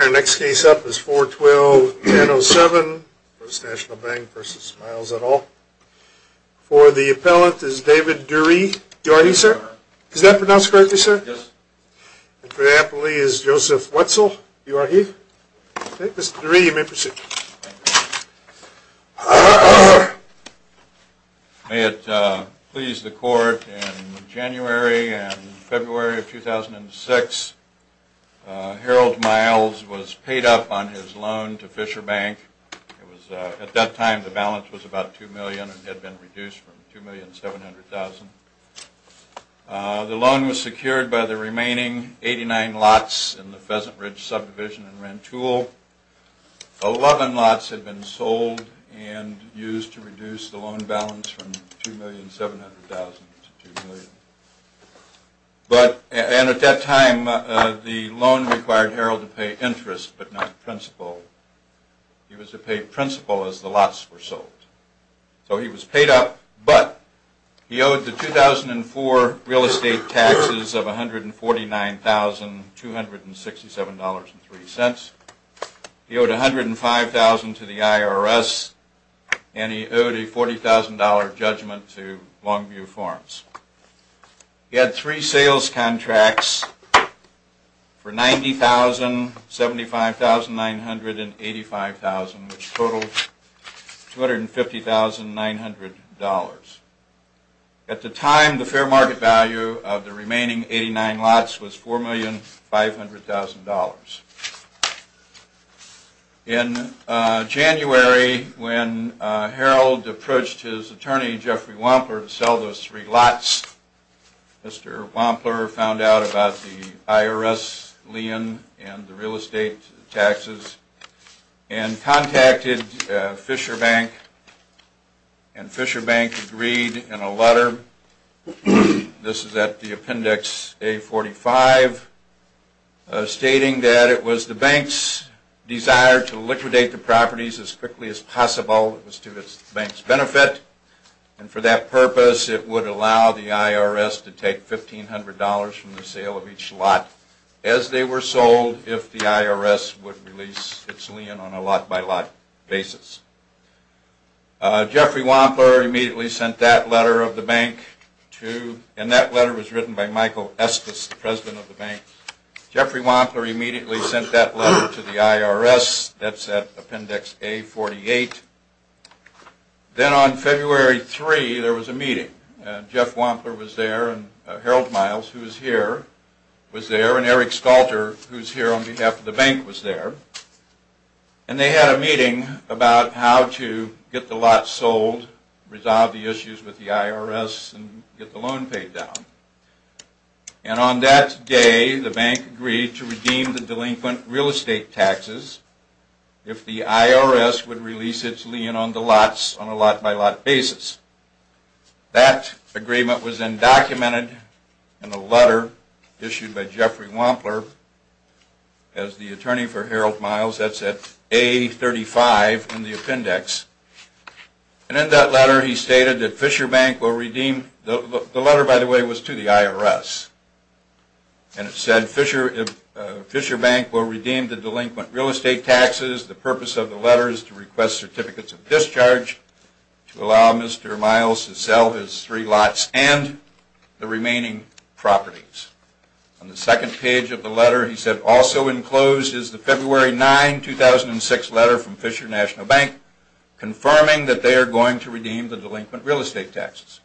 Our next case up is 4-12-10-07, First National Bank v. Miles et al. For the appellant is David Dury. You are he, sir? Is that pronounced correctly, sir? Yes. And for the appellee is Joseph Wetzel. You are he? Okay. Mr. Dury, you may proceed. May it please the court, in January and February of 2006, Harold Miles was paid up on his loan to Fisher Bank. At that time the balance was about $2 million and had been reduced from $2,700,000. The loan was secured by the remaining 89 lots in the Pheasant Ridge subdivision in Rantoul. Eleven lots had been sold and used to reduce the loan balance from $2,700,000 to $2,000,000. But at that time the loan required Harold to pay interest but not principal. He was to pay principal as the lots were sold. So he was paid up but he owed the 2004 real estate taxes of $149,267.03. He owed $105,000 to the IRS and he owed a $40,000 judgment to Longview Farms. He had three sales contracts for $90,000, $75,000, $900,000 and $85,000 which totaled $250,900. At the time the fair market value of the remaining 89 lots was $4,500,000. In January when Harold approached his attorney Jeffrey Wampler to sell those three lots, Mr. Wampler found out about the IRS lien and the real estate taxes and contacted Fisher Bank. And Fisher Bank agreed in a letter, this is at the appendix A45, stating that it was the bank's desire to liquidate the properties as quickly as possible. It was to the bank's benefit and for that purpose it would allow the IRS to take $1,500 from the sale of each lot as they were sold if the IRS would release its lien on a lot by lot basis. Jeffrey Wampler immediately sent that letter of the bank to, and that letter was written by Michael Estes, the president of the bank. Jeffrey Wampler immediately sent that letter to the IRS, that's at appendix A48. Then on February 3 there was a meeting. Jeff Wampler was there and Harold Miles, who is here, was there, and Eric Stalter, who is here on behalf of the bank, was there. And they had a meeting about how to get the lots sold, resolve the issues with the IRS, and get the loan paid down. And on that day the bank agreed to redeem the delinquent real estate taxes if the IRS would release its lien on the lots on a lot by lot basis. That agreement was then documented in a letter issued by Jeffrey Wampler as the attorney for Harold Miles, that's at A35 in the appendix. And in that letter he stated that Fisher Bank will redeem, the letter by the way was to the IRS, and it said Fisher Bank will redeem the delinquent real estate taxes. The purpose of the letter is to request certificates of discharge to allow Mr. Miles to sell his three lots and the remaining properties. On the second page of the letter he said, Also enclosed is the February 9, 2006 letter from Fisher National Bank confirming that they are going to redeem the delinquent real estate taxes.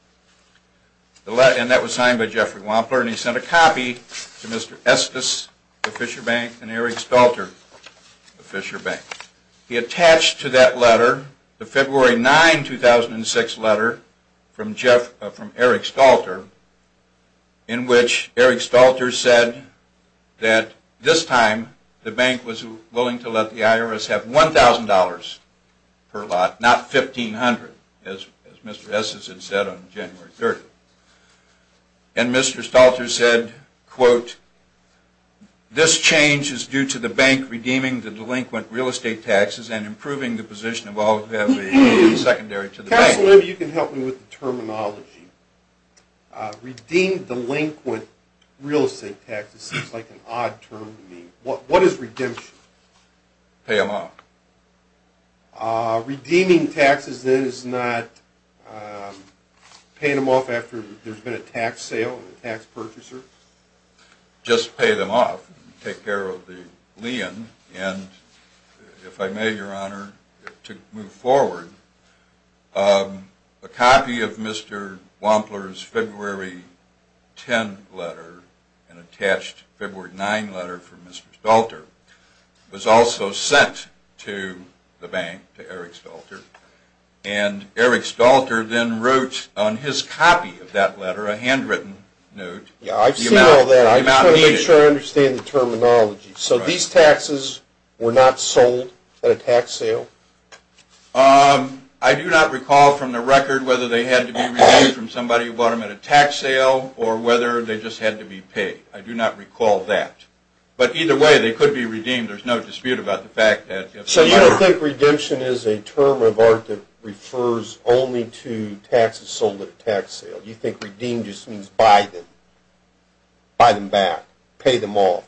And that was signed by Jeffrey Wampler, and he sent a copy to Mr. Estes of Fisher Bank and Eric Stalter of Fisher Bank. He attached to that letter the February 9, 2006 letter from Eric Stalter in which Eric Stalter said that this time the bank was willing to let the IRS have $1,000 per lot, not $1,500 as Mr. Estes had said on January 30th. And Mr. Stalter said, quote, This change is due to the bank redeeming the delinquent real estate taxes and improving the position of all who have been secondary to the bank. I don't know if you can help me with the terminology. Redeemed delinquent real estate taxes seems like an odd term to me. What is redemption? Pay them off. Redeeming taxes then is not paying them off after there's been a tax sale, a tax purchaser? Just pay them off. Take care of the lien. And if I may, Your Honor, to move forward, a copy of Mr. Wampler's February 10 letter and attached February 9 letter from Mr. Stalter was also sent to the bank, to Eric Stalter. And Eric Stalter then wrote on his copy of that letter, a handwritten note, I'm not sure I understand the terminology. So these taxes were not sold at a tax sale? I do not recall from the record whether they had to be redeemed from somebody who bought them at a tax sale or whether they just had to be paid. I do not recall that. But either way, they could be redeemed. There's no dispute about the fact that if they were. So you don't think redemption is a term of art that refers only to taxes sold at a tax sale? You think redeemed just means buy them? Buy them back? Pay them off?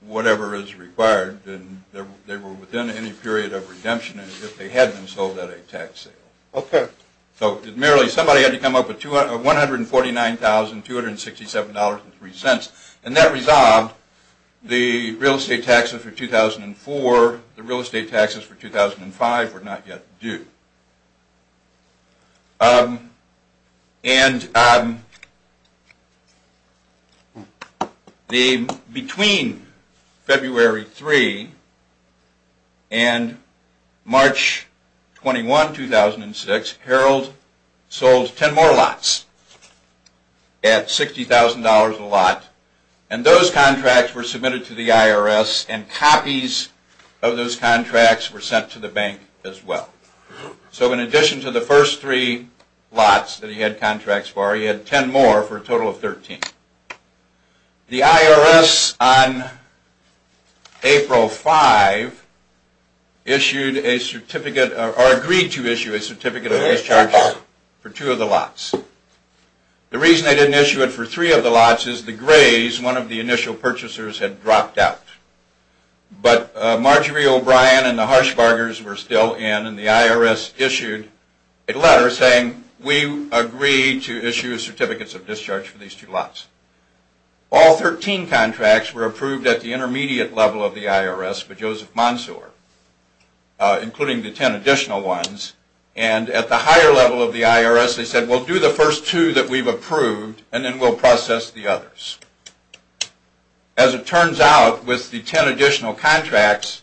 Whatever is required. They were within any period of redemption if they had been sold at a tax sale. Okay. So merely somebody had to come up with $149,267.03, and that resolved the real estate taxes for 2004, the real estate taxes for 2005 were not yet due. And between February 3 and March 21, 2006, Harold sold 10 more lots at $60,000 a lot, and those contracts were submitted to the IRS and copies of those contracts were sent to the bank as well. So in addition to the first three lots that he had contracts for, he had 10 more for a total of 13. The IRS on April 5 issued a certificate or agreed to issue a certificate of discharge for two of the lots. The reason they didn't issue it for three of the lots is the grays, one of the initial purchasers, had dropped out. But Marjorie O'Brien and the Harshbargers were still in, and the IRS issued a letter saying, we agree to issue certificates of discharge for these two lots. All 13 contracts were approved at the intermediate level of the IRS by Joseph Monsoor, including the 10 additional ones, and at the higher level of the IRS they said, we'll do the first two that we've approved and then we'll process the others. As it turns out, with the 10 additional contracts,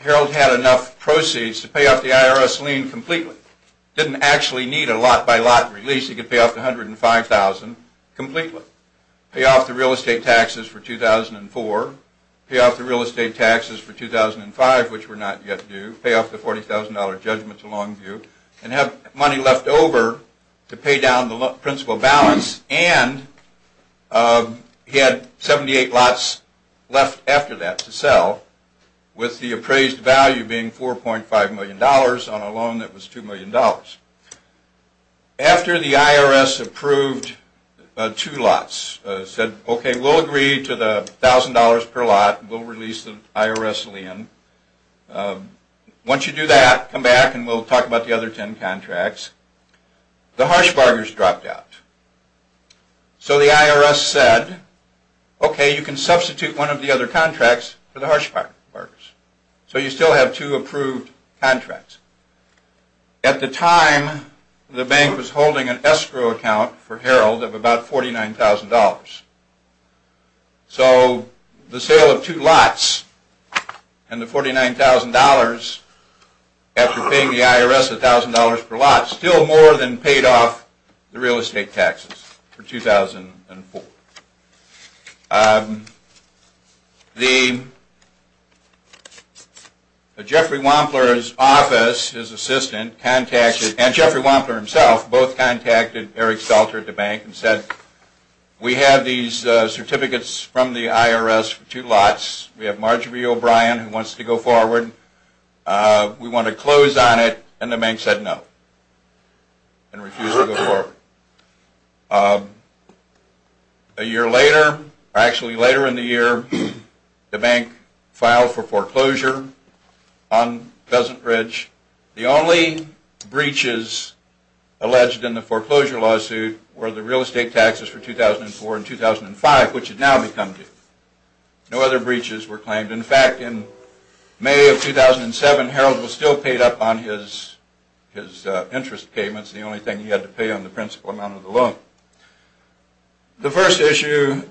Harold had enough proceeds to pay off the IRS lien completely. He didn't actually need a lot-by-lot release. He could pay off the $105,000 completely, pay off the real estate taxes for 2004, pay off the real estate taxes for 2005, which were not yet due, pay off the $40,000 judgment to Longview, and have money left over to pay down the principal balance. And he had 78 lots left after that to sell, with the appraised value being $4.5 million on a loan that was $2 million. After the IRS approved two lots, said, okay, we'll agree to the $1,000 per lot, we'll release the IRS lien. Once you do that, come back and we'll talk about the other 10 contracts. The Harshbargers dropped out. So the IRS said, okay, you can substitute one of the other contracts for the Harshbargers. So you still have two approved contracts. At the time, the bank was holding an escrow account for Harold of about $49,000. So the sale of two lots and the $49,000, after paying the IRS $1,000 per lot, still more than paid off the real estate taxes for 2004. Jeffrey Wampler's office, his assistant, and Jeffrey Wampler himself both contacted Eric Salter at the bank and said, we have these certificates from the IRS for two lots. We have Marjorie O'Brien who wants to go forward. We want to close on it. And the bank said no and refused to go forward. A year later, actually later in the year, the bank filed for foreclosure on Pheasant Ridge. The only breaches alleged in the foreclosure lawsuit were the real estate taxes for 2004 and 2005, which had now become due. No other breaches were claimed. In fact, in May of 2007, Harold was still paid up on his interest payments, the only thing he had to pay on the principal amount of the loan. The first issue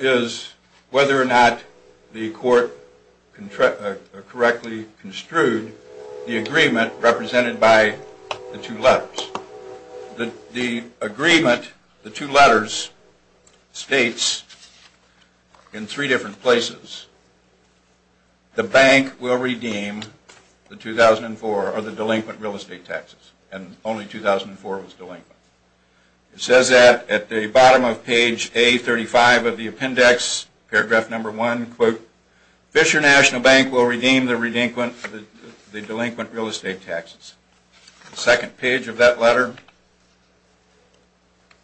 is whether or not the court correctly construed the agreement represented by the two lots. The agreement, the two letters, states in three different places, the bank will redeem the 2004 or the delinquent real estate taxes. And only 2004 was delinquent. It says that at the bottom of page A35 of the appendix, paragraph number one, quote, Fisher National Bank will redeem the delinquent real estate taxes. The second page of that letter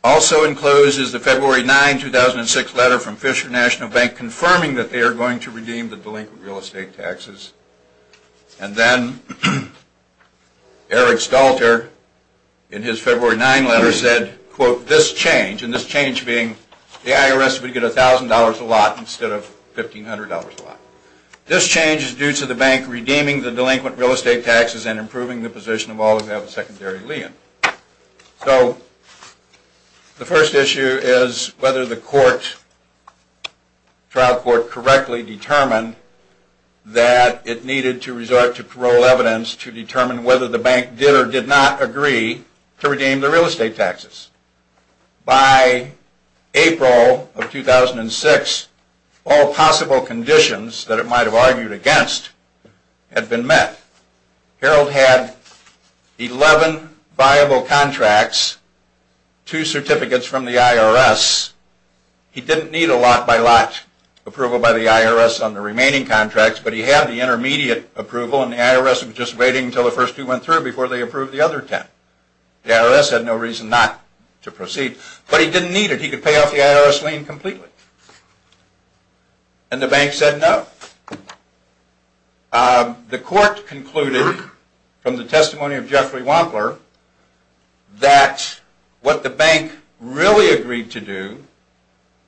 also encloses the February 9, 2006 letter from Fisher National Bank confirming that they are going to redeem the delinquent real estate taxes. And then Eric Stalter, in his February 9 letter, said, quote, this change, and this change being the IRS would get $1,000 a lot instead of $1,500 a lot. This change is due to the bank redeeming the delinquent real estate taxes and improving the position of all who have a secondary lien. So the first issue is whether the trial court correctly determined that it needed to resort to parole evidence to determine whether the bank did or did not agree to redeem the real estate taxes. By April of 2006, all possible conditions that it might have argued against had been met. Harold had 11 viable contracts, two certificates from the IRS. He didn't need a lot-by-lot approval by the IRS on the remaining contracts, but he had the intermediate approval and the IRS was just waiting until the first two went through before they approved the other 10. The IRS had no reason not to proceed, but he didn't need it. He could pay off the IRS lien completely. And the bank said no. The court concluded from the testimony of Jeffrey Wampler that what the bank really agreed to do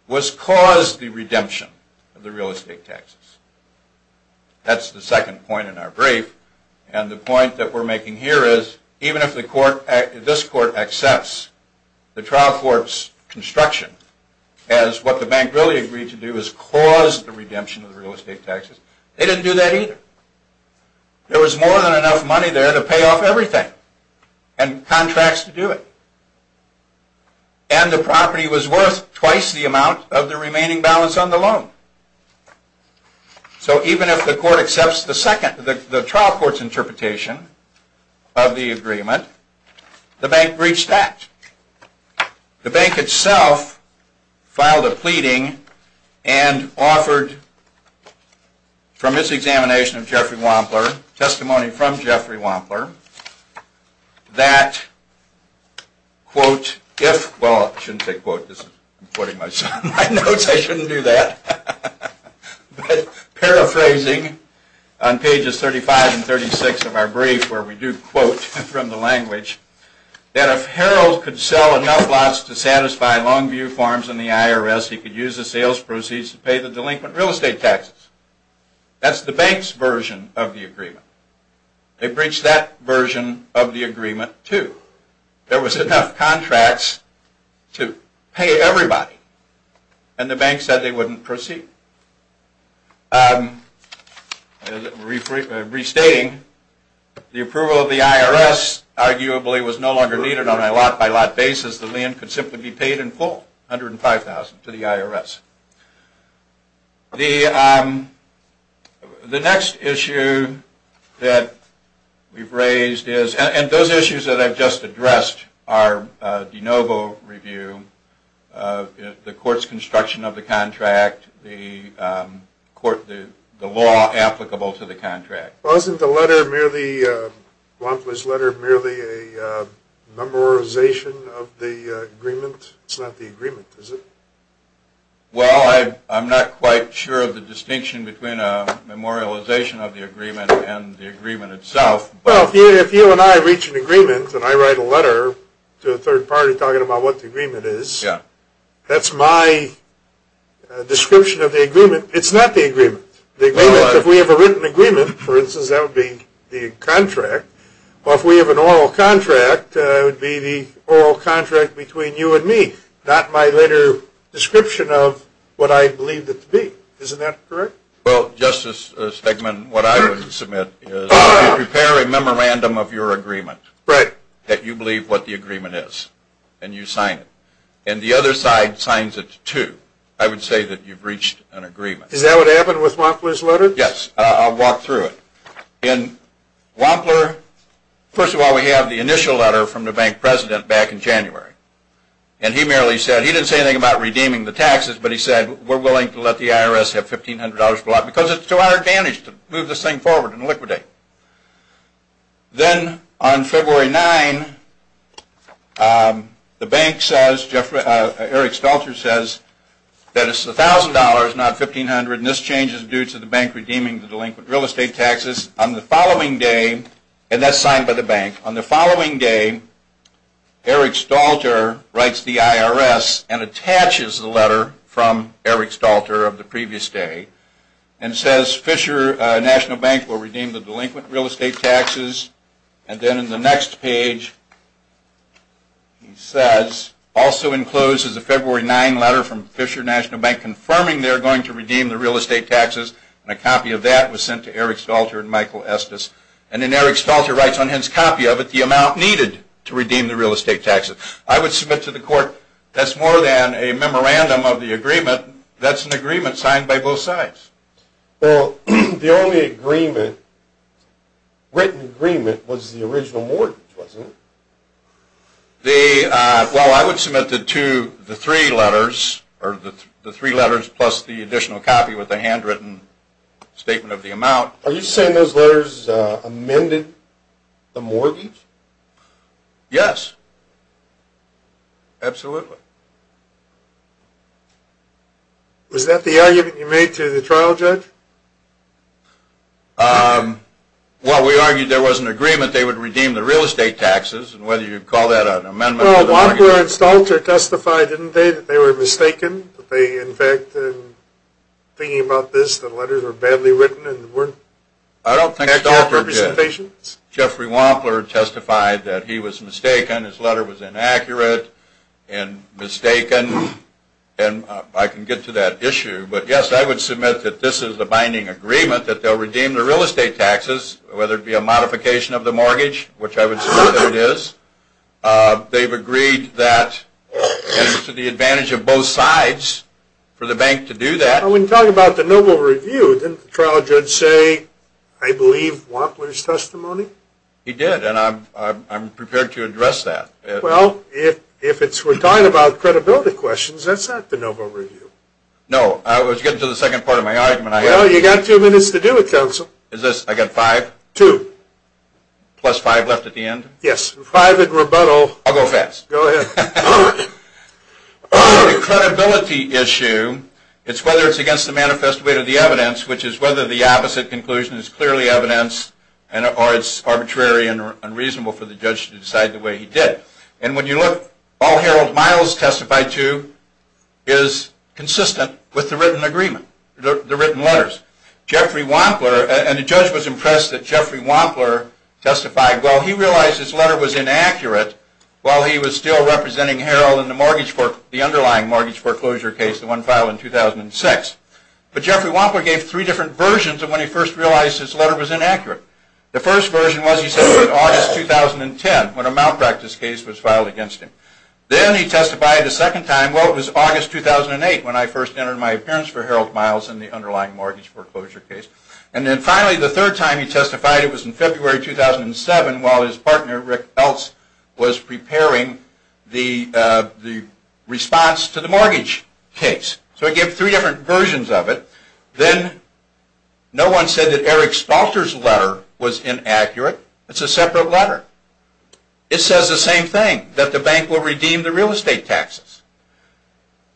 was cause the redemption of the real estate taxes. That's the second point in our brief, and the point that we're making here is even if this court accepts the trial court's construction as what the bank really agreed to do is cause the redemption of the real estate taxes, they didn't do that either. There was more than enough money there to pay off everything and contracts to do it. And the property was worth twice the amount of the remaining balance on the loan. So even if the court accepts the trial court's interpretation of the agreement, the bank reached that. The bank itself filed a pleading and offered from its examination of Jeffrey Wampler, testimony from Jeffrey Wampler, that, quote, if... Well, I shouldn't say quote. I'm putting this on my notes. I shouldn't do that. Paraphrasing on pages 35 and 36 of our brief where we do quote from the language that if Harold could sell enough lots to satisfy Longview Farms and the IRS, he could use the sales proceeds to pay the delinquent real estate taxes. That's the bank's version of the agreement. They breached that version of the agreement too. There was enough contracts to pay everybody, and the bank said they wouldn't proceed. Restating, the approval of the IRS arguably was no longer needed on a lot-by-lot basis. The land could simply be paid in full, $105,000 to the IRS. The next issue that we've raised is... And those issues that I've just addressed are de novo review, the court's construction of the contract, the law applicable to the contract. Wasn't the letter merely, Blomquist's letter, merely a memorization of the agreement? It's not the agreement, is it? Well, I'm not quite sure of the distinction between a memorialization of the agreement and the agreement itself. Well, if you and I reach an agreement and I write a letter to a third party talking about what the agreement is, that's my description of the agreement. It's not the agreement. If we have a written agreement, for instance, that would be the contract. Or if we have an oral contract, it would be the oral contract between you and me, not my letter description of what I believed it to be. Isn't that correct? Well, Justice Stegman, what I would submit is if you prepare a memorandum of your agreement, that you believe what the agreement is, and you sign it, and the other side signs it too, I would say that you've reached an agreement. Is that what happened with Wampler's letter? Yes, I'll walk through it. In Wampler, first of all, we have the initial letter from the bank president back in January. And he merely said, he didn't say anything about redeeming the taxes, but he said, we're willing to let the IRS have $1,500 per lot because it's to our advantage to move this thing forward and liquidate. Then on February 9, the bank says, Eric Stelter says, that it's $1,000, not $1,500, and this change is due to the bank redeeming the delinquent real estate taxes. On the following day, and that's signed by the bank, on the following day, Eric Stelter writes the IRS and attaches the letter from Eric Stelter of the previous day, and says Fisher National Bank will redeem the delinquent real estate taxes. And then in the next page, he says, also enclosed is a February 9 letter from Fisher National Bank confirming they're going to redeem the real estate taxes, and a copy of that was sent to Eric Stelter and Michael Estes. And then Eric Stelter writes on his copy of it the amount needed to redeem the real estate taxes. I would submit to the court, that's more than a memorandum of the agreement, that's an agreement signed by both sides. Well, the only agreement, written agreement, was the original mortgage, wasn't it? Well, I would submit the three letters, or the three letters plus the additional copy with the handwritten statement of the amount. Are you saying those letters amended the mortgage? Yes. Absolutely. Was that the argument you made to the trial judge? Well, we argued there was an agreement they would redeem the real estate taxes, and whether you'd call that an amendment or not. Well, Wampler and Stelter testified, didn't they, that they were mistaken? In fact, thinking about this, the letters were badly written and weren't accurate representations? I don't think Stelter did. Jeffrey Wampler testified that he was mistaken, his letter was inaccurate and mistaken, and I can get to that issue. But yes, I would submit that this is a binding agreement that they'll redeem the real estate taxes, whether it be a modification of the mortgage, which I would submit that it is. They've agreed that it's to the advantage of both sides for the bank to do that. Well, when you talk about the noble review, didn't the trial judge say, I believe Wampler's testimony? He did, and I'm prepared to address that. Well, if we're talking about credibility questions, that's not the noble review. No. Well, you've got two minutes to do it, counsel. Is this, I've got five? Two. Plus five left at the end? Yes. Five in rebuttal. I'll go fast. Go ahead. The credibility issue, it's whether it's against the manifest weight of the evidence, which is whether the opposite conclusion is clearly evidenced or it's arbitrary and unreasonable for the judge to decide the way he did. And when you look, all Harold Miles testified to is consistent with the written agreement, the written letters. Jeffrey Wampler, and the judge was impressed that Jeffrey Wampler testified, well, he realized his letter was inaccurate while he was still representing Harold in the underlying mortgage foreclosure case, the one filed in 2006. But Jeffrey Wampler gave three different versions of when he first realized his letter was inaccurate. The first version was he said it was August 2010 when a malpractice case was filed against him. Then he testified the second time, well, it was August 2008 when I first entered my appearance for Harold Miles in the underlying mortgage foreclosure case. And then finally the third time he testified it was in February 2007 while his partner, Rick Eltz, was preparing the response to the mortgage case. So he gave three different versions of it. Then no one said that Eric Spalter's letter was inaccurate. It's a separate letter. It says the same thing, that the bank will redeem the real estate taxes.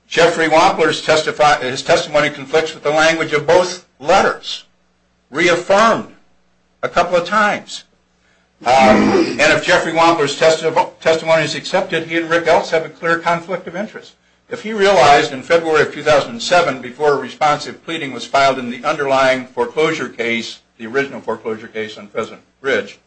Jeffrey Wampler's testimony conflicts with the language of both letters, reaffirmed a couple of times. And if Jeffrey Wampler's testimony is accepted, he and Rick Eltz have a clear conflict of interest. If he realized in February 2007 before a responsive pleading was filed in the underlying foreclosure case, the original foreclosure case on President Ridge,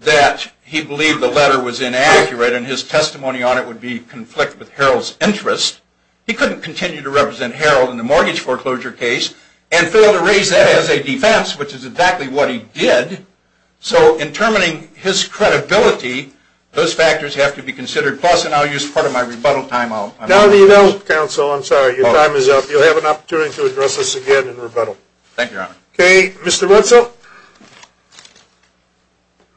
that he believed the letter was inaccurate and his testimony on it would be conflicted with Harold's interest, he couldn't continue to represent Harold in the mortgage foreclosure case and fail to raise that as a defense, which is exactly what he did. So in terminating his credibility, those factors have to be considered. Plus, and I'll use part of my rebuttal time. Now that you know, Counsel, I'm sorry, your time is up. You'll have an opportunity to address this again in rebuttal. Thank you, Your Honor. Okay, Mr. Wetzel. Counsel?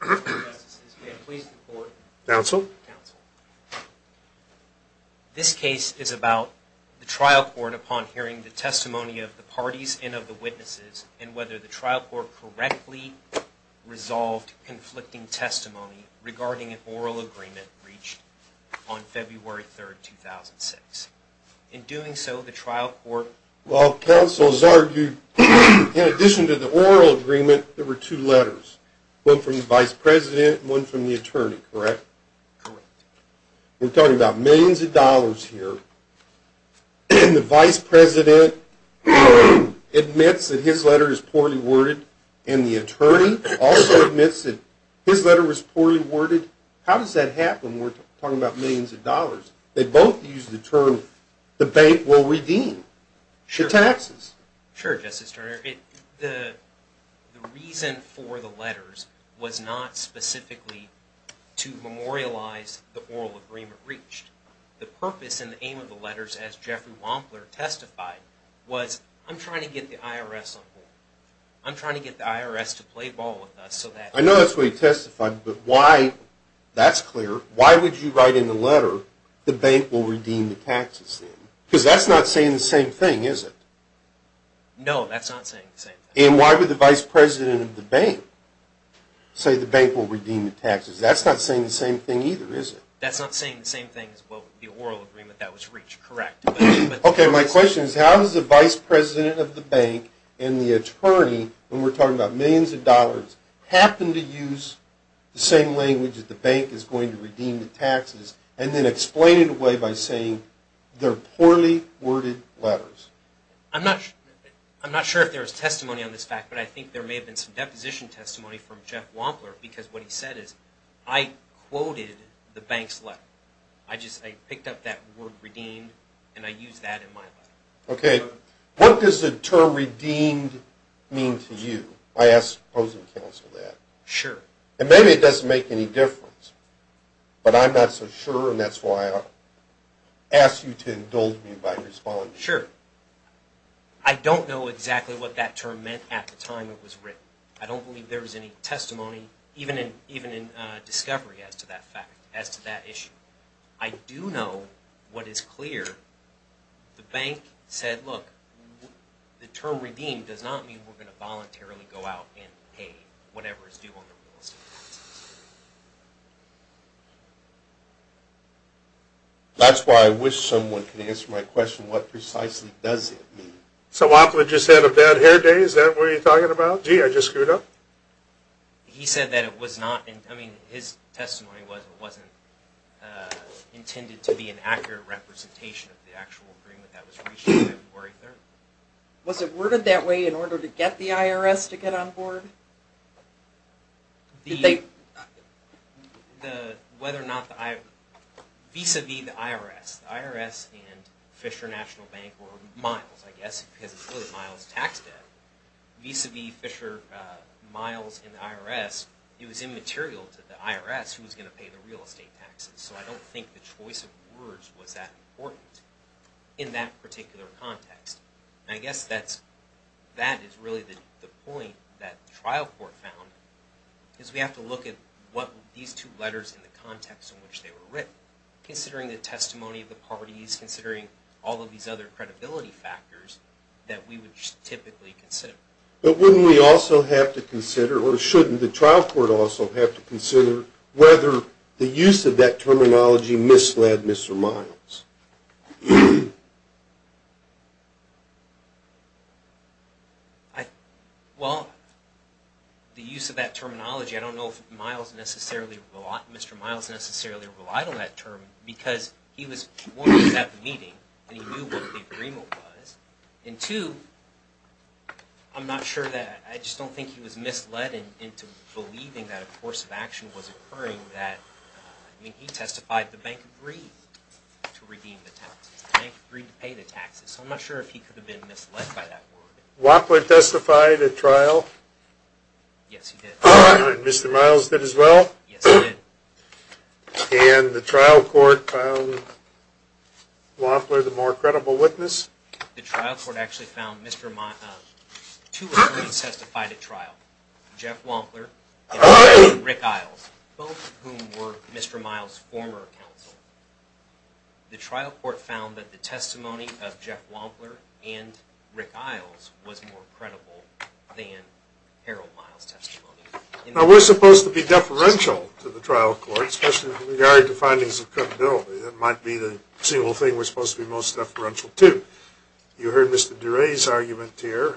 Counsel? This case is about the trial court upon hearing the testimony of the parties and of the witnesses and whether the trial court correctly resolved conflicting testimony regarding an oral agreement reached on February 3rd, 2006. In doing so, the trial court... Well, Counsel, as argued, in addition to the oral agreement, there were two letters, one from the vice president and one from the attorney, correct? Correct. We're talking about millions of dollars here. The vice president admits that his letter is poorly worded and the attorney also admits that his letter was poorly worded. How does that happen when we're talking about millions of dollars? They both use the term, the bank will redeem. Should taxes. Sure, Justice Turner. The reason for the letters was not specifically to memorialize the oral agreement reached. The purpose and the aim of the letters, as Jeffrey Wampler testified, was I'm trying to get the IRS on board. I'm trying to get the IRS to play ball with us so that... I know that's what he testified, but why, that's clear. Why would you write in the letter, the bank will redeem the taxes then? Because that's not saying the same thing, is it? No, that's not saying the same thing. And why would the vice president of the bank say the bank will redeem the taxes? That's not saying the same thing either, is it? That's not saying the same thing as the oral agreement that was reached, correct. Okay, my question is how does the vice president of the bank and the attorney, when we're talking about millions of dollars, happen to use the same language that the bank is going to redeem the taxes and then explain it away by saying they're poorly worded letters? I'm not sure if there was testimony on this fact, but I think there may have been some deposition testimony from Jeff Wampler because what he said is I quoted the bank's letter. I just picked up that word redeemed and I used that in my letter. Okay, what does the term redeemed mean to you? I ask opposing counsel that. Sure. And maybe it doesn't make any difference, but I'm not so sure and that's why I ask you to indulge me by responding. Sure. I don't know exactly what that term meant at the time it was written. I don't believe there was any testimony, even in discovery as to that fact, as to that issue. I do know what is clear. The bank said, look, the term redeemed does not mean we're going to voluntarily go out and pay whatever is due on the real estate taxes. That's why I wish someone could answer my question, what precisely does it mean? So Wampler just had a bad hair day? Is that what you're talking about? Gee, I just screwed up? He said that it was not, I mean, his testimony wasn't intended to be an accurate representation of the actual agreement that was reached on February 3rd. Was it worded that way in order to get the IRS to get on board? Vis-a-vis the IRS, the IRS and Fisher National Bank, or Miles, I guess, because of Miles' tax debt, vis-a-vis Fisher, Miles and the IRS, it was immaterial to the IRS who was going to pay the real estate taxes. So I don't think the choice of words was that important in that particular context. And I guess that is really the point that the trial court found, is we have to look at these two letters in the context in which they were written. Considering the testimony of the parties, considering all of these other credibility factors, that we would typically consider. But wouldn't we also have to consider, or shouldn't the trial court also have to consider, whether the use of that terminology misled Mr. Miles? Well, the use of that terminology, I don't know if Mr. Miles necessarily relied on that term, because he was, one, at the meeting, and he knew what the agreement was, and two, I'm not sure that, I just don't think he was misled into believing that a course of action was occurring, that, I mean, he testified the bank agreed to redeem the taxes, the bank agreed to pay the taxes. So I'm not sure if he could have been misled by that word. Wapler testified at trial? Yes, he did. And Mr. Miles did as well? Yes, he did. And the trial court found Wapler the more credible witness? The trial court actually found two attorneys testified at trial, Jeff Wampler and Rick Isles, both of whom were Mr. Miles' former counsel. The trial court found that the testimony of Jeff Wampler and Rick Isles was more credible than Harold Miles' testimony. Now, we're supposed to be deferential to the trial court, especially with regard to findings of credibility. That might be the single thing we're supposed to be most deferential to. You heard Mr. Duray's argument here.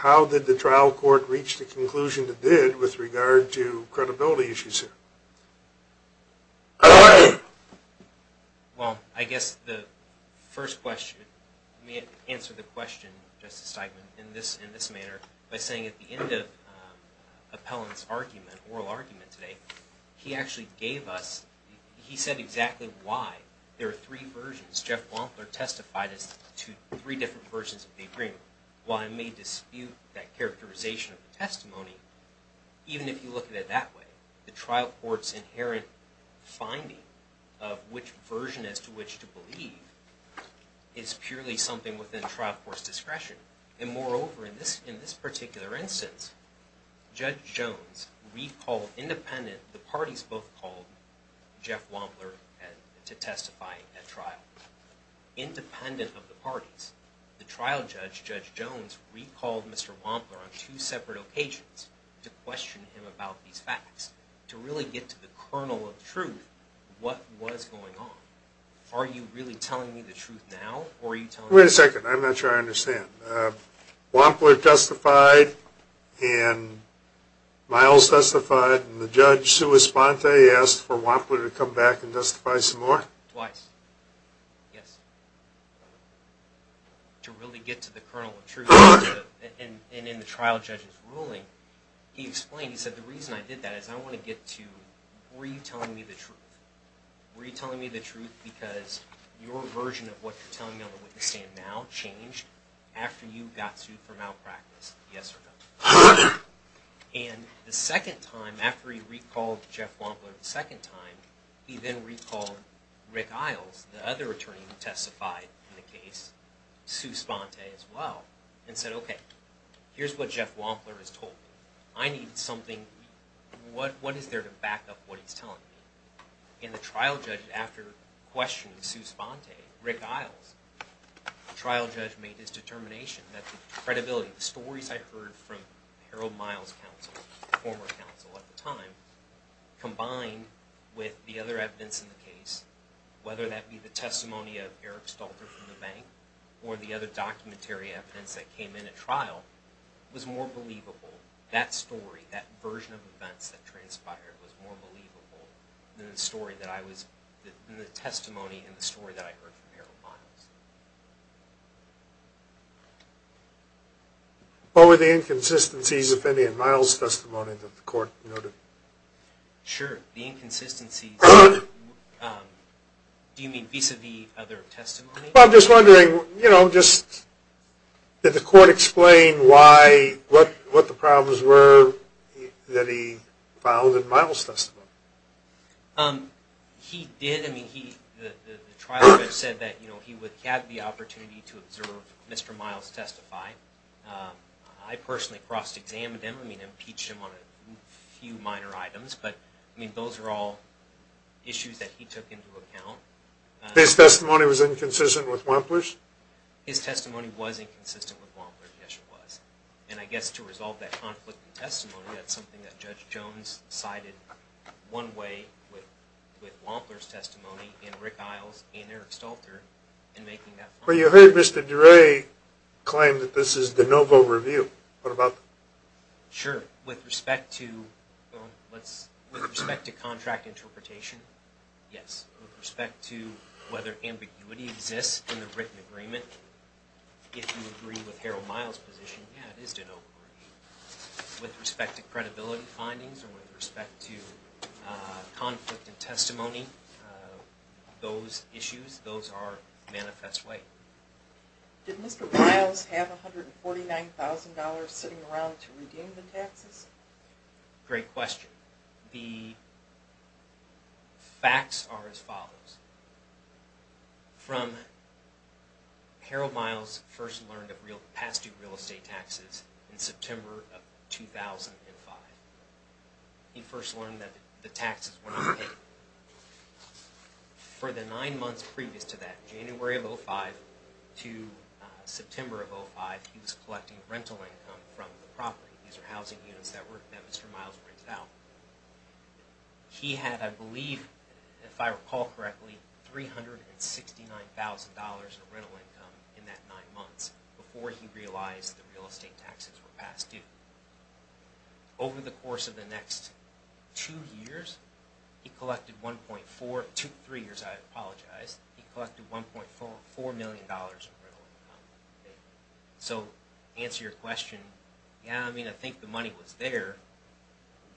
How did the trial court reach the conclusion it did with regard to credibility issues here? Well, I guess the first question, let me answer the question, Justice Steigman, in this manner, by saying at the end of Appellant's oral argument today, he actually gave us, he said exactly why. There are three versions. Jeff Wampler testified as to three different versions of the agreement. While I may dispute that characterization of the testimony, even if you look at it that way, the trial court's inherent finding of which version as to which to believe is purely something within trial court's discretion. And moreover, in this particular instance, Judge Jones recalled independent, the parties both called Jeff Wampler to testify at trial, independent of the parties. The trial judge, Judge Jones, recalled Mr. Wampler on two separate occasions to question him about these facts, to really get to the kernel of truth, what was going on. Are you really telling me the truth now, or are you telling me? Wait a second, I'm not sure I understand. Wampler testified, and Miles testified, and the judge, Sue Esponte, asked for Wampler to come back and testify some more? Twice. Yes. To really get to the kernel of truth, and in the trial judge's ruling, he explained, he said, the reason I did that is I want to get to, were you telling me the truth? Were you telling me the truth because your version of what you're telling me on the witness stand now changed after you got sued for malpractice, yes or no? And the second time, after he recalled Jeff Wampler the second time, he then recalled Rick Iles, the other attorney who testified in the case, Sue Esponte as well, and said, okay, here's what Jeff Wampler has told me. I need something, what is there to back up what he's telling me? And the trial judge, after questioning Sue Esponte, Rick Iles, the trial judge made his determination that the credibility, the stories I heard from Harold Miles' counsel, the former counsel at the time, combined with the other evidence in the case, whether that be the testimony of Eric Stalter from the bank or the other documentary evidence that came in at trial, was more believable. That story, that version of events that transpired was more believable than the story that I was, than the testimony and the story that I heard from Harold Miles. What were the inconsistencies, if any, in Miles' testimony that the court noted? Sure, the inconsistencies, do you mean vis-a-vis other testimonies? Well, I'm just wondering, you know, just did the court explain why, what the problems were that he found in Miles' testimony? He did, I mean, the trial judge said that, you know, he would have the opportunity to observe Mr. Miles testify. I personally cross-examined him, I mean, impeached him on a few minor items, but, I mean, those are all issues that he took into account. His testimony was inconsistent with Wampler's? His testimony was inconsistent with Wampler's, yes it was. And I guess to resolve that conflict in testimony, that's something that Judge Jones sided one way with Wampler's testimony, and Rick Isles, and Eric Stalter, in making that point. But you heard Mr. DeRay claim that this is de novo review, what about that? Sure, with respect to contract interpretation, yes. With respect to whether ambiguity exists in the written agreement, if you agree with Harold Miles' position, yeah, it is de novo review. With respect to credibility findings, or with respect to conflict in testimony, those issues, those are manifest way. Did Mr. Miles have $149,000 sitting around to redeem the taxes? Great question. The facts are as follows. From Harold Miles first learned of past-due real estate taxes in September of 2005. He first learned that the taxes were not paid. For the nine months previous to that, January of 2005 to September of 2005, he was collecting rental income from the property. These are housing units that Mr. Miles rented out. He had, I believe, if I recall correctly, $369,000 in rental income in that nine months, before he realized that real estate taxes were past due. Over the course of the next two years, he collected $1.4 million in rental income. So, to answer your question, yeah, I mean, I think the money was there.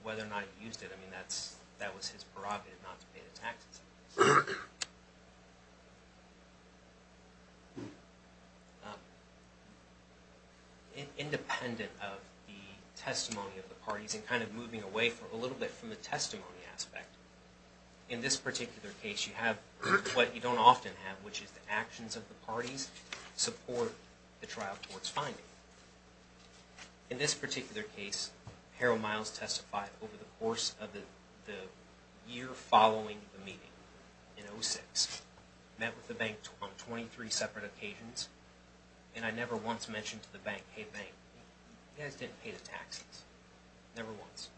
Whether or not he used it, I mean, that was his prerogative not to pay the taxes. Independent of the testimony of the parties, and kind of moving away for a little bit from the testimony aspect, in this particular case, you have what you don't often have, which is the actions of the parties support the trial court's finding. In this particular case, Harold Miles testified over the course of the year following the meeting in 2006. He met with the bank on 23 separate occasions, and I never once mentioned to the bank, You guys didn't pay the taxes. Never once.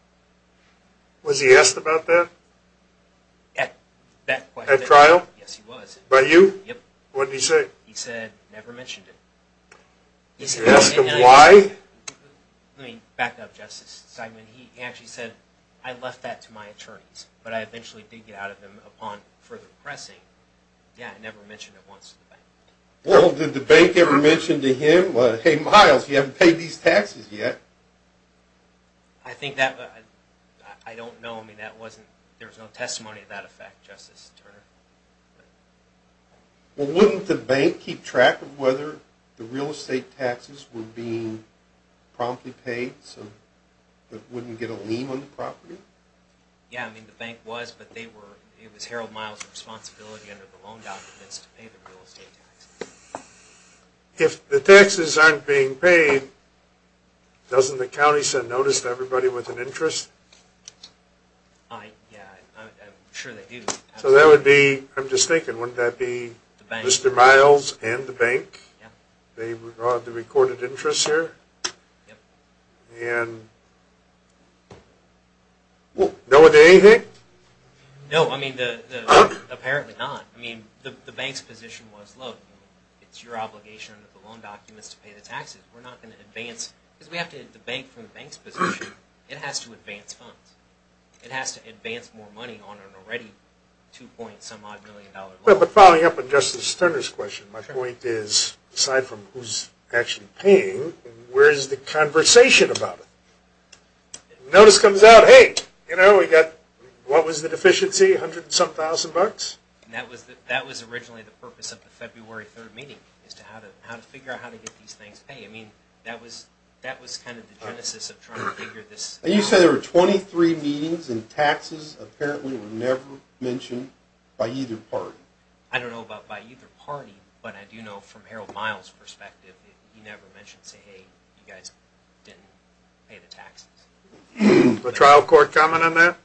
Was he asked about that? At that question? At trial? Yes, he was. By you? Yep. What did he say? He said, never mentioned it. You asked him why? Let me back up, Justice Steinman. He actually said, I left that to my attorneys, but I eventually did get out of them upon further pressing. Yeah, I never mentioned it once to the bank. Well, did the bank ever mention to him, hey, Miles, you haven't paid these taxes yet? I think that, I don't know. I mean, that wasn't, there was no testimony to that effect, Justice Turner. Well, wouldn't the bank keep track of whether the real estate taxes were being promptly paid, so it wouldn't get a lien on the property? Yeah, I mean, the bank was, but they were, it was Harold Miles' responsibility under the loan documents to pay the real estate taxes. If the taxes aren't being paid, doesn't the county send notice to everybody with an interest? I, yeah, I'm sure they do. So that would be, I'm just thinking, wouldn't that be Mr. Miles and the bank? Yeah. They brought the recorded interest here? Yep. And no one did anything? No, I mean, apparently not. I mean, the bank's position was, look, it's your obligation under the loan documents to pay the taxes. We're not going to advance, because we have to debate from the bank's position, it has to advance funds. It has to advance more money on an already $2.5 million loan. Well, but following up on Justice Sterner's question, my point is, aside from who's actually paying, where's the conversation about it? Notice comes out, hey, you know, we got, what was the deficiency? A hundred and some thousand bucks? That was originally the purpose of the February 3rd meeting, is to figure out how to get these things paid. I mean, that was kind of the genesis of trying to figure this out. You said there were 23 meetings, and taxes apparently were never mentioned by either party. I don't know about by either party, but I do know from Harold Miles' perspective that he never mentioned, say, hey, you guys didn't pay the taxes. A trial court comment on that?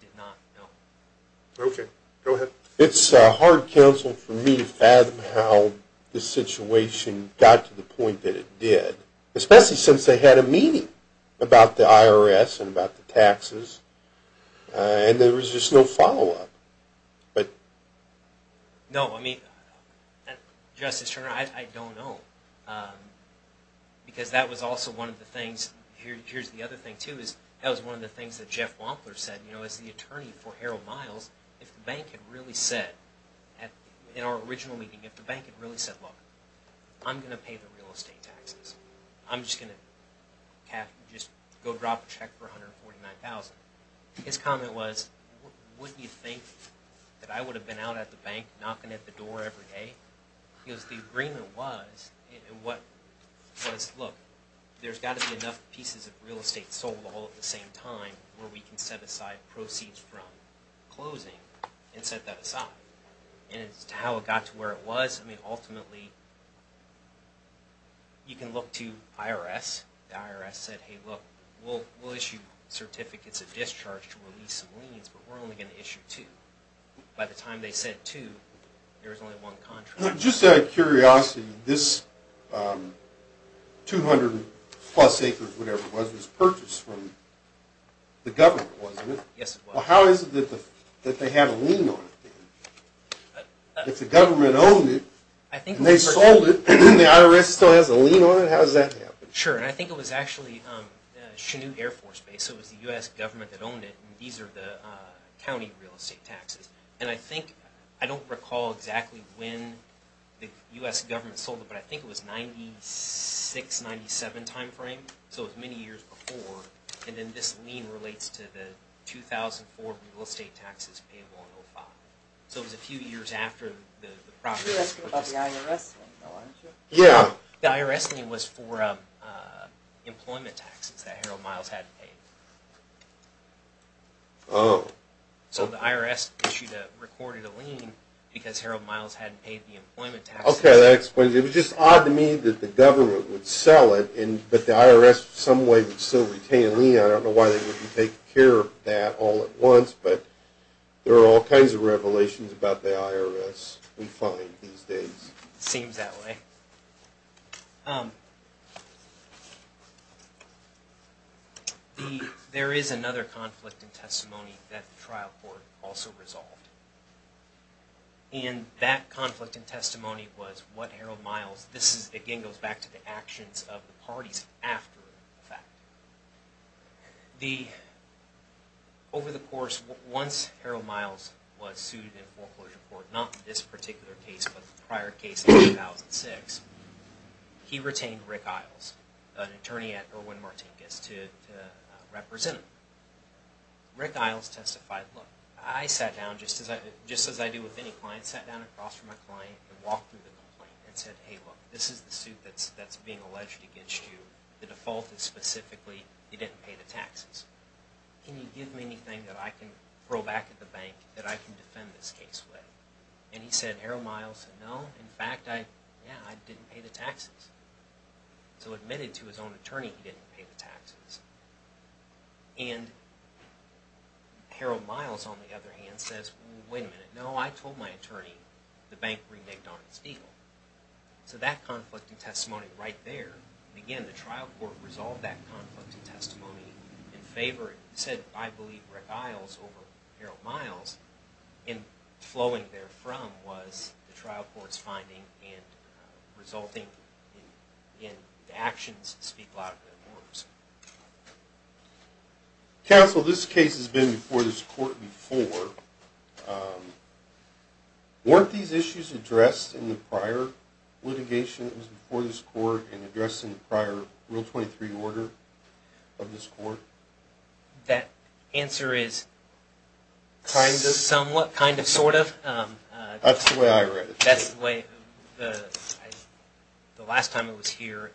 Did not, no. Okay, go ahead. It's hard counsel for me to fathom how the situation got to the point that it did, especially since they had a meeting about the IRS and about the taxes, and there was just no follow-up. No, I mean, Justice Sterner, I don't know, because that was also one of the things, here's the other thing too, that was one of the things that Jeff Wampler said, you know, as the attorney for Harold Miles, if the bank had really said, in our original meeting, if the bank had really said, look, I'm going to pay the real estate taxes. I'm just going to go drop a check for $149,000. His comment was, wouldn't you think that I would have been out at the bank knocking at the door every day? Because the agreement was, look, there's got to be enough pieces of real estate sold all at the same time where we can set aside proceeds from closing and set that aside. And as to how it got to where it was, I mean, ultimately, you can look to IRS. The IRS said, hey, look, we'll issue certificates of discharge to release some liens, but we're only going to issue two. By the time they sent two, there was only one contract. Just out of curiosity, this 200 plus acres, whatever it was, was purchased from the government, wasn't it? Yes, it was. Well, how is it that they had a lien on it then? If the government owned it, and they sold it, and the IRS still has a lien on it, how does that happen? Sure, and I think it was actually Chenute Air Force Base. It was the U.S. government that owned it. These are the county real estate taxes. And I think, I don't recall exactly when the U.S. government sold it, but I think it was 96, 97 timeframe. So it was many years before. And then this lien relates to the 2004 real estate taxes payable in 2005. So it was a few years after the property was purchased. You're asking about the IRS? Yeah. The IRS lien was for employment taxes that Harold Miles hadn't paid. Oh. So the IRS issued a, recorded a lien because Harold Miles hadn't paid the employment taxes. Okay, that explains it. It was just odd to me that the government would sell it, but the IRS in some way would still retain a lien. I don't know why they wouldn't take care of that all at once, but there are all kinds of revelations about the IRS we find these days. It seems that way. There is another conflict in testimony that the trial court also resolved. And that conflict in testimony was what Harold Miles, this again goes back to the actions of the parties after the fact. Over the course, once Harold Miles was sued in foreclosure court, not this particular case, but the prior case in 2006, he retained Rick Isles, an attorney at Irwin-Martincus to represent him. Rick Isles testified, look, I sat down just as I do with any client, sat down across from my client and walked through the complaint and said, hey, look, this is the suit that's being alleged against you. The default is specifically you didn't pay the taxes. Can you give me anything that I can throw back at the bank that I can defend this case with? And he said, Harold Miles said, no, in fact, yeah, I didn't pay the taxes. So admitted to his own attorney he didn't pay the taxes. And Harold Miles, on the other hand, says, wait a minute, no, I told my attorney the bank reneged on its deal. So that conflict in testimony right there, again, the trial court resolved that conflict in testimony in favor. It said, I believe, Rick Isles over Harold Miles. And flowing therefrom was the trial court's finding and resulting in actions that speak louder than words. Counsel, this case has been before this court before. Weren't these issues addressed in the prior litigation that was before this court and addressed in the prior Rule 23 order of this court? That answer is somewhat, kind of, sort of. That's the way I read it. That's the way the last time I was here,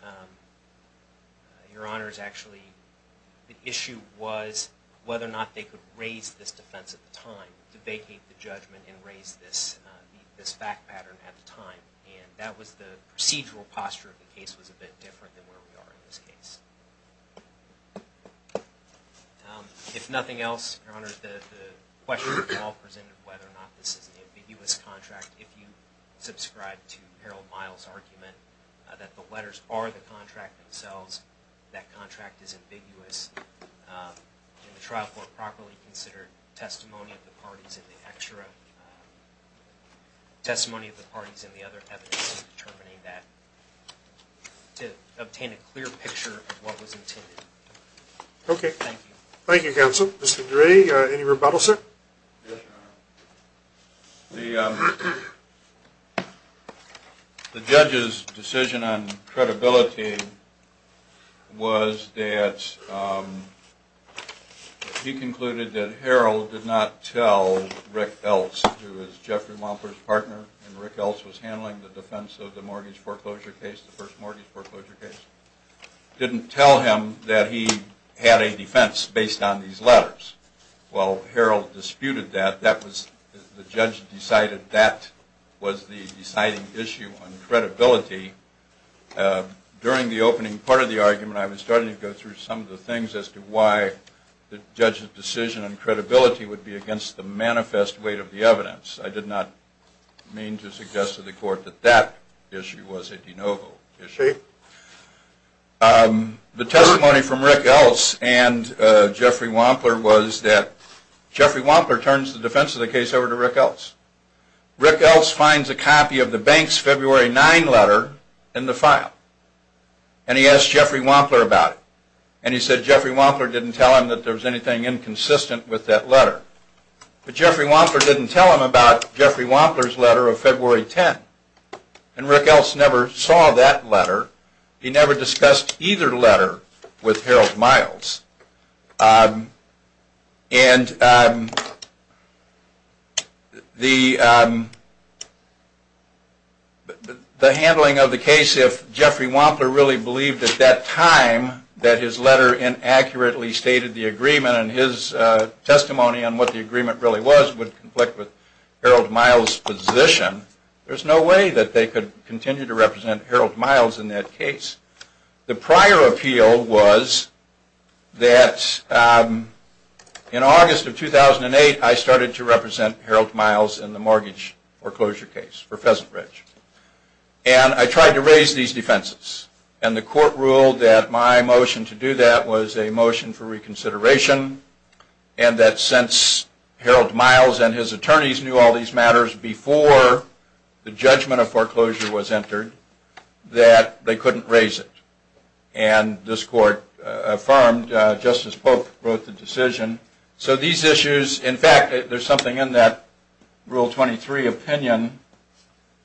Your Honors, actually, the issue was whether or not they could raise this defense at the time. To vacate the judgment and raise this fact pattern at the time. And that was the procedural posture of the case was a bit different than where we are in this case. If nothing else, Your Honors, the question that you all presented of whether or not this is an ambiguous contract, if you subscribe to Harold Miles' argument that the letters are the contract themselves, that contract is ambiguous, and the trial court properly considered testimony of the parties in the extra, testimony of the parties in the other evidence in determining that, to obtain a clear picture of what was intended. Okay. Thank you. Thank you, Counsel. Yes, Your Honor. The judge's decision on credibility was that he concluded that Harold did not tell Rick Eltz, who was Jeffrey Wampler's partner and Rick Eltz was handling the defense of the mortgage foreclosure case, the first mortgage foreclosure case, didn't tell him that he had a defense based on these letters. While Harold disputed that, the judge decided that was the deciding issue on credibility. During the opening part of the argument, I was starting to go through some of the things as to why the judge's decision on credibility would be against the manifest weight of the evidence. I did not mean to suggest to the court that that issue was a de novo issue. The testimony from Rick Eltz and Jeffrey Wampler was that Jeffrey Wampler turns the defense of the case over to Rick Eltz. Rick Eltz finds a copy of the bank's February 9 letter in the file, and he asks Jeffrey Wampler about it. And he said Jeffrey Wampler didn't tell him that there was anything inconsistent with that letter. But Jeffrey Wampler didn't tell him about Jeffrey Wampler's letter of February 10. And Rick Eltz never saw that letter. He never discussed either letter with Harold Miles. The handling of the case, if Jeffrey Wampler really believed at that time that his letter inaccurately stated the agreement and his testimony on what the agreement really was would conflict with Harold Miles' position, there's no way that they could continue to represent Harold Miles in that case. The prior appeal was that in August of 2008 I started to represent Harold Miles in the mortgage foreclosure case for Pheasant Ridge. And I tried to raise these defenses. And the court ruled that my motion to do that was a motion for reconsideration, and that since Harold Miles and his attorneys knew all these matters before the judgment of foreclosure was entered, that they couldn't raise it. And this court affirmed just as Pope wrote the decision. So these issues, in fact, there's something in that Rule 23 opinion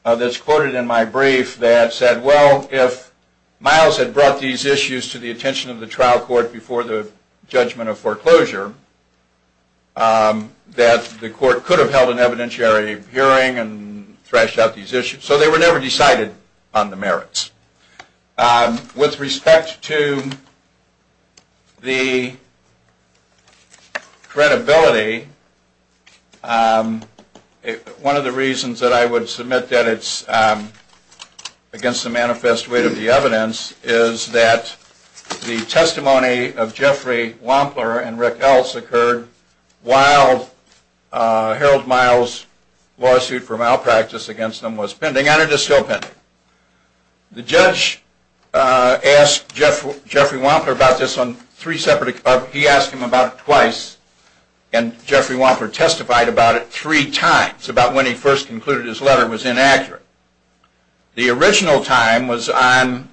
that's quoted in my brief that said, well, if Miles had brought these issues to the attention of the trial court before the judgment of foreclosure, that the court could have held an evidentiary hearing and thrashed out these issues. So they were never decided on the merits. With respect to the credibility, one of the reasons that I would submit that it's against the manifest weight of the evidence is that the testimony of Jeffrey Wampler and Rick Eltz occurred while Harold Miles' lawsuit for malpractice against him was pending, and it is still pending. The judge asked Jeffrey Wampler about this on three separate occasions. He asked him about it twice, and Jeffrey Wampler testified about it three times, about when he first concluded his letter was inaccurate. The original time was on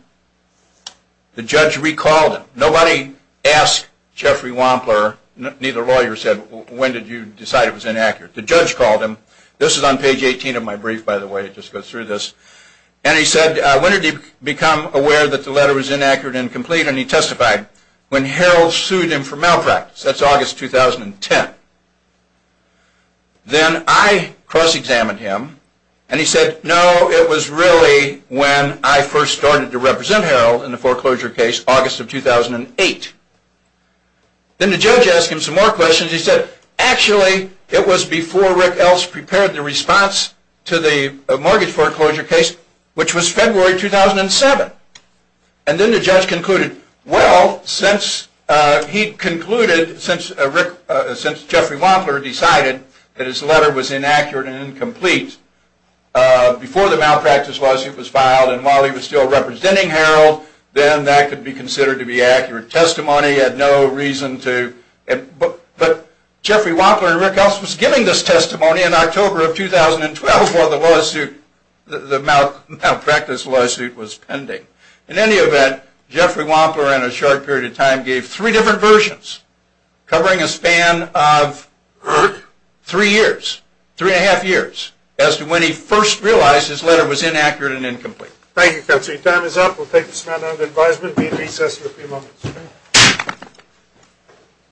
the judge recalled him. Nobody asked Jeffrey Wampler, neither lawyer said, when did you decide it was inaccurate? The judge called him. This is on page 18 of my brief, by the way. It just goes through this. And he said, when did he become aware that the letter was inaccurate and incomplete? And he testified, when Harold sued him for malpractice. That's August 2010. Then I cross-examined him, and he said, no, it was really when I first started to represent Harold in the foreclosure case, August of 2008. Then the judge asked him some more questions. He said, actually, it was before Rick Eltz prepared the response to the mortgage foreclosure case, which was February 2007. And then the judge concluded, well, since Jeffrey Wampler decided that his letter was inaccurate and incomplete before the malpractice lawsuit was filed, and while he was still representing Harold, then that could be considered to be accurate testimony. But Jeffrey Wampler and Rick Eltz was giving this testimony in October of 2012, while the malpractice lawsuit was pending. In any event, Jeffrey Wampler, in a short period of time, gave three different versions, covering a span of three years, three and a half years, as to when he first realized his letter was inaccurate and incomplete. Thank you, Counselor. Your time is up. We'll take a small amount of advisement. We'll be in recess in a few moments.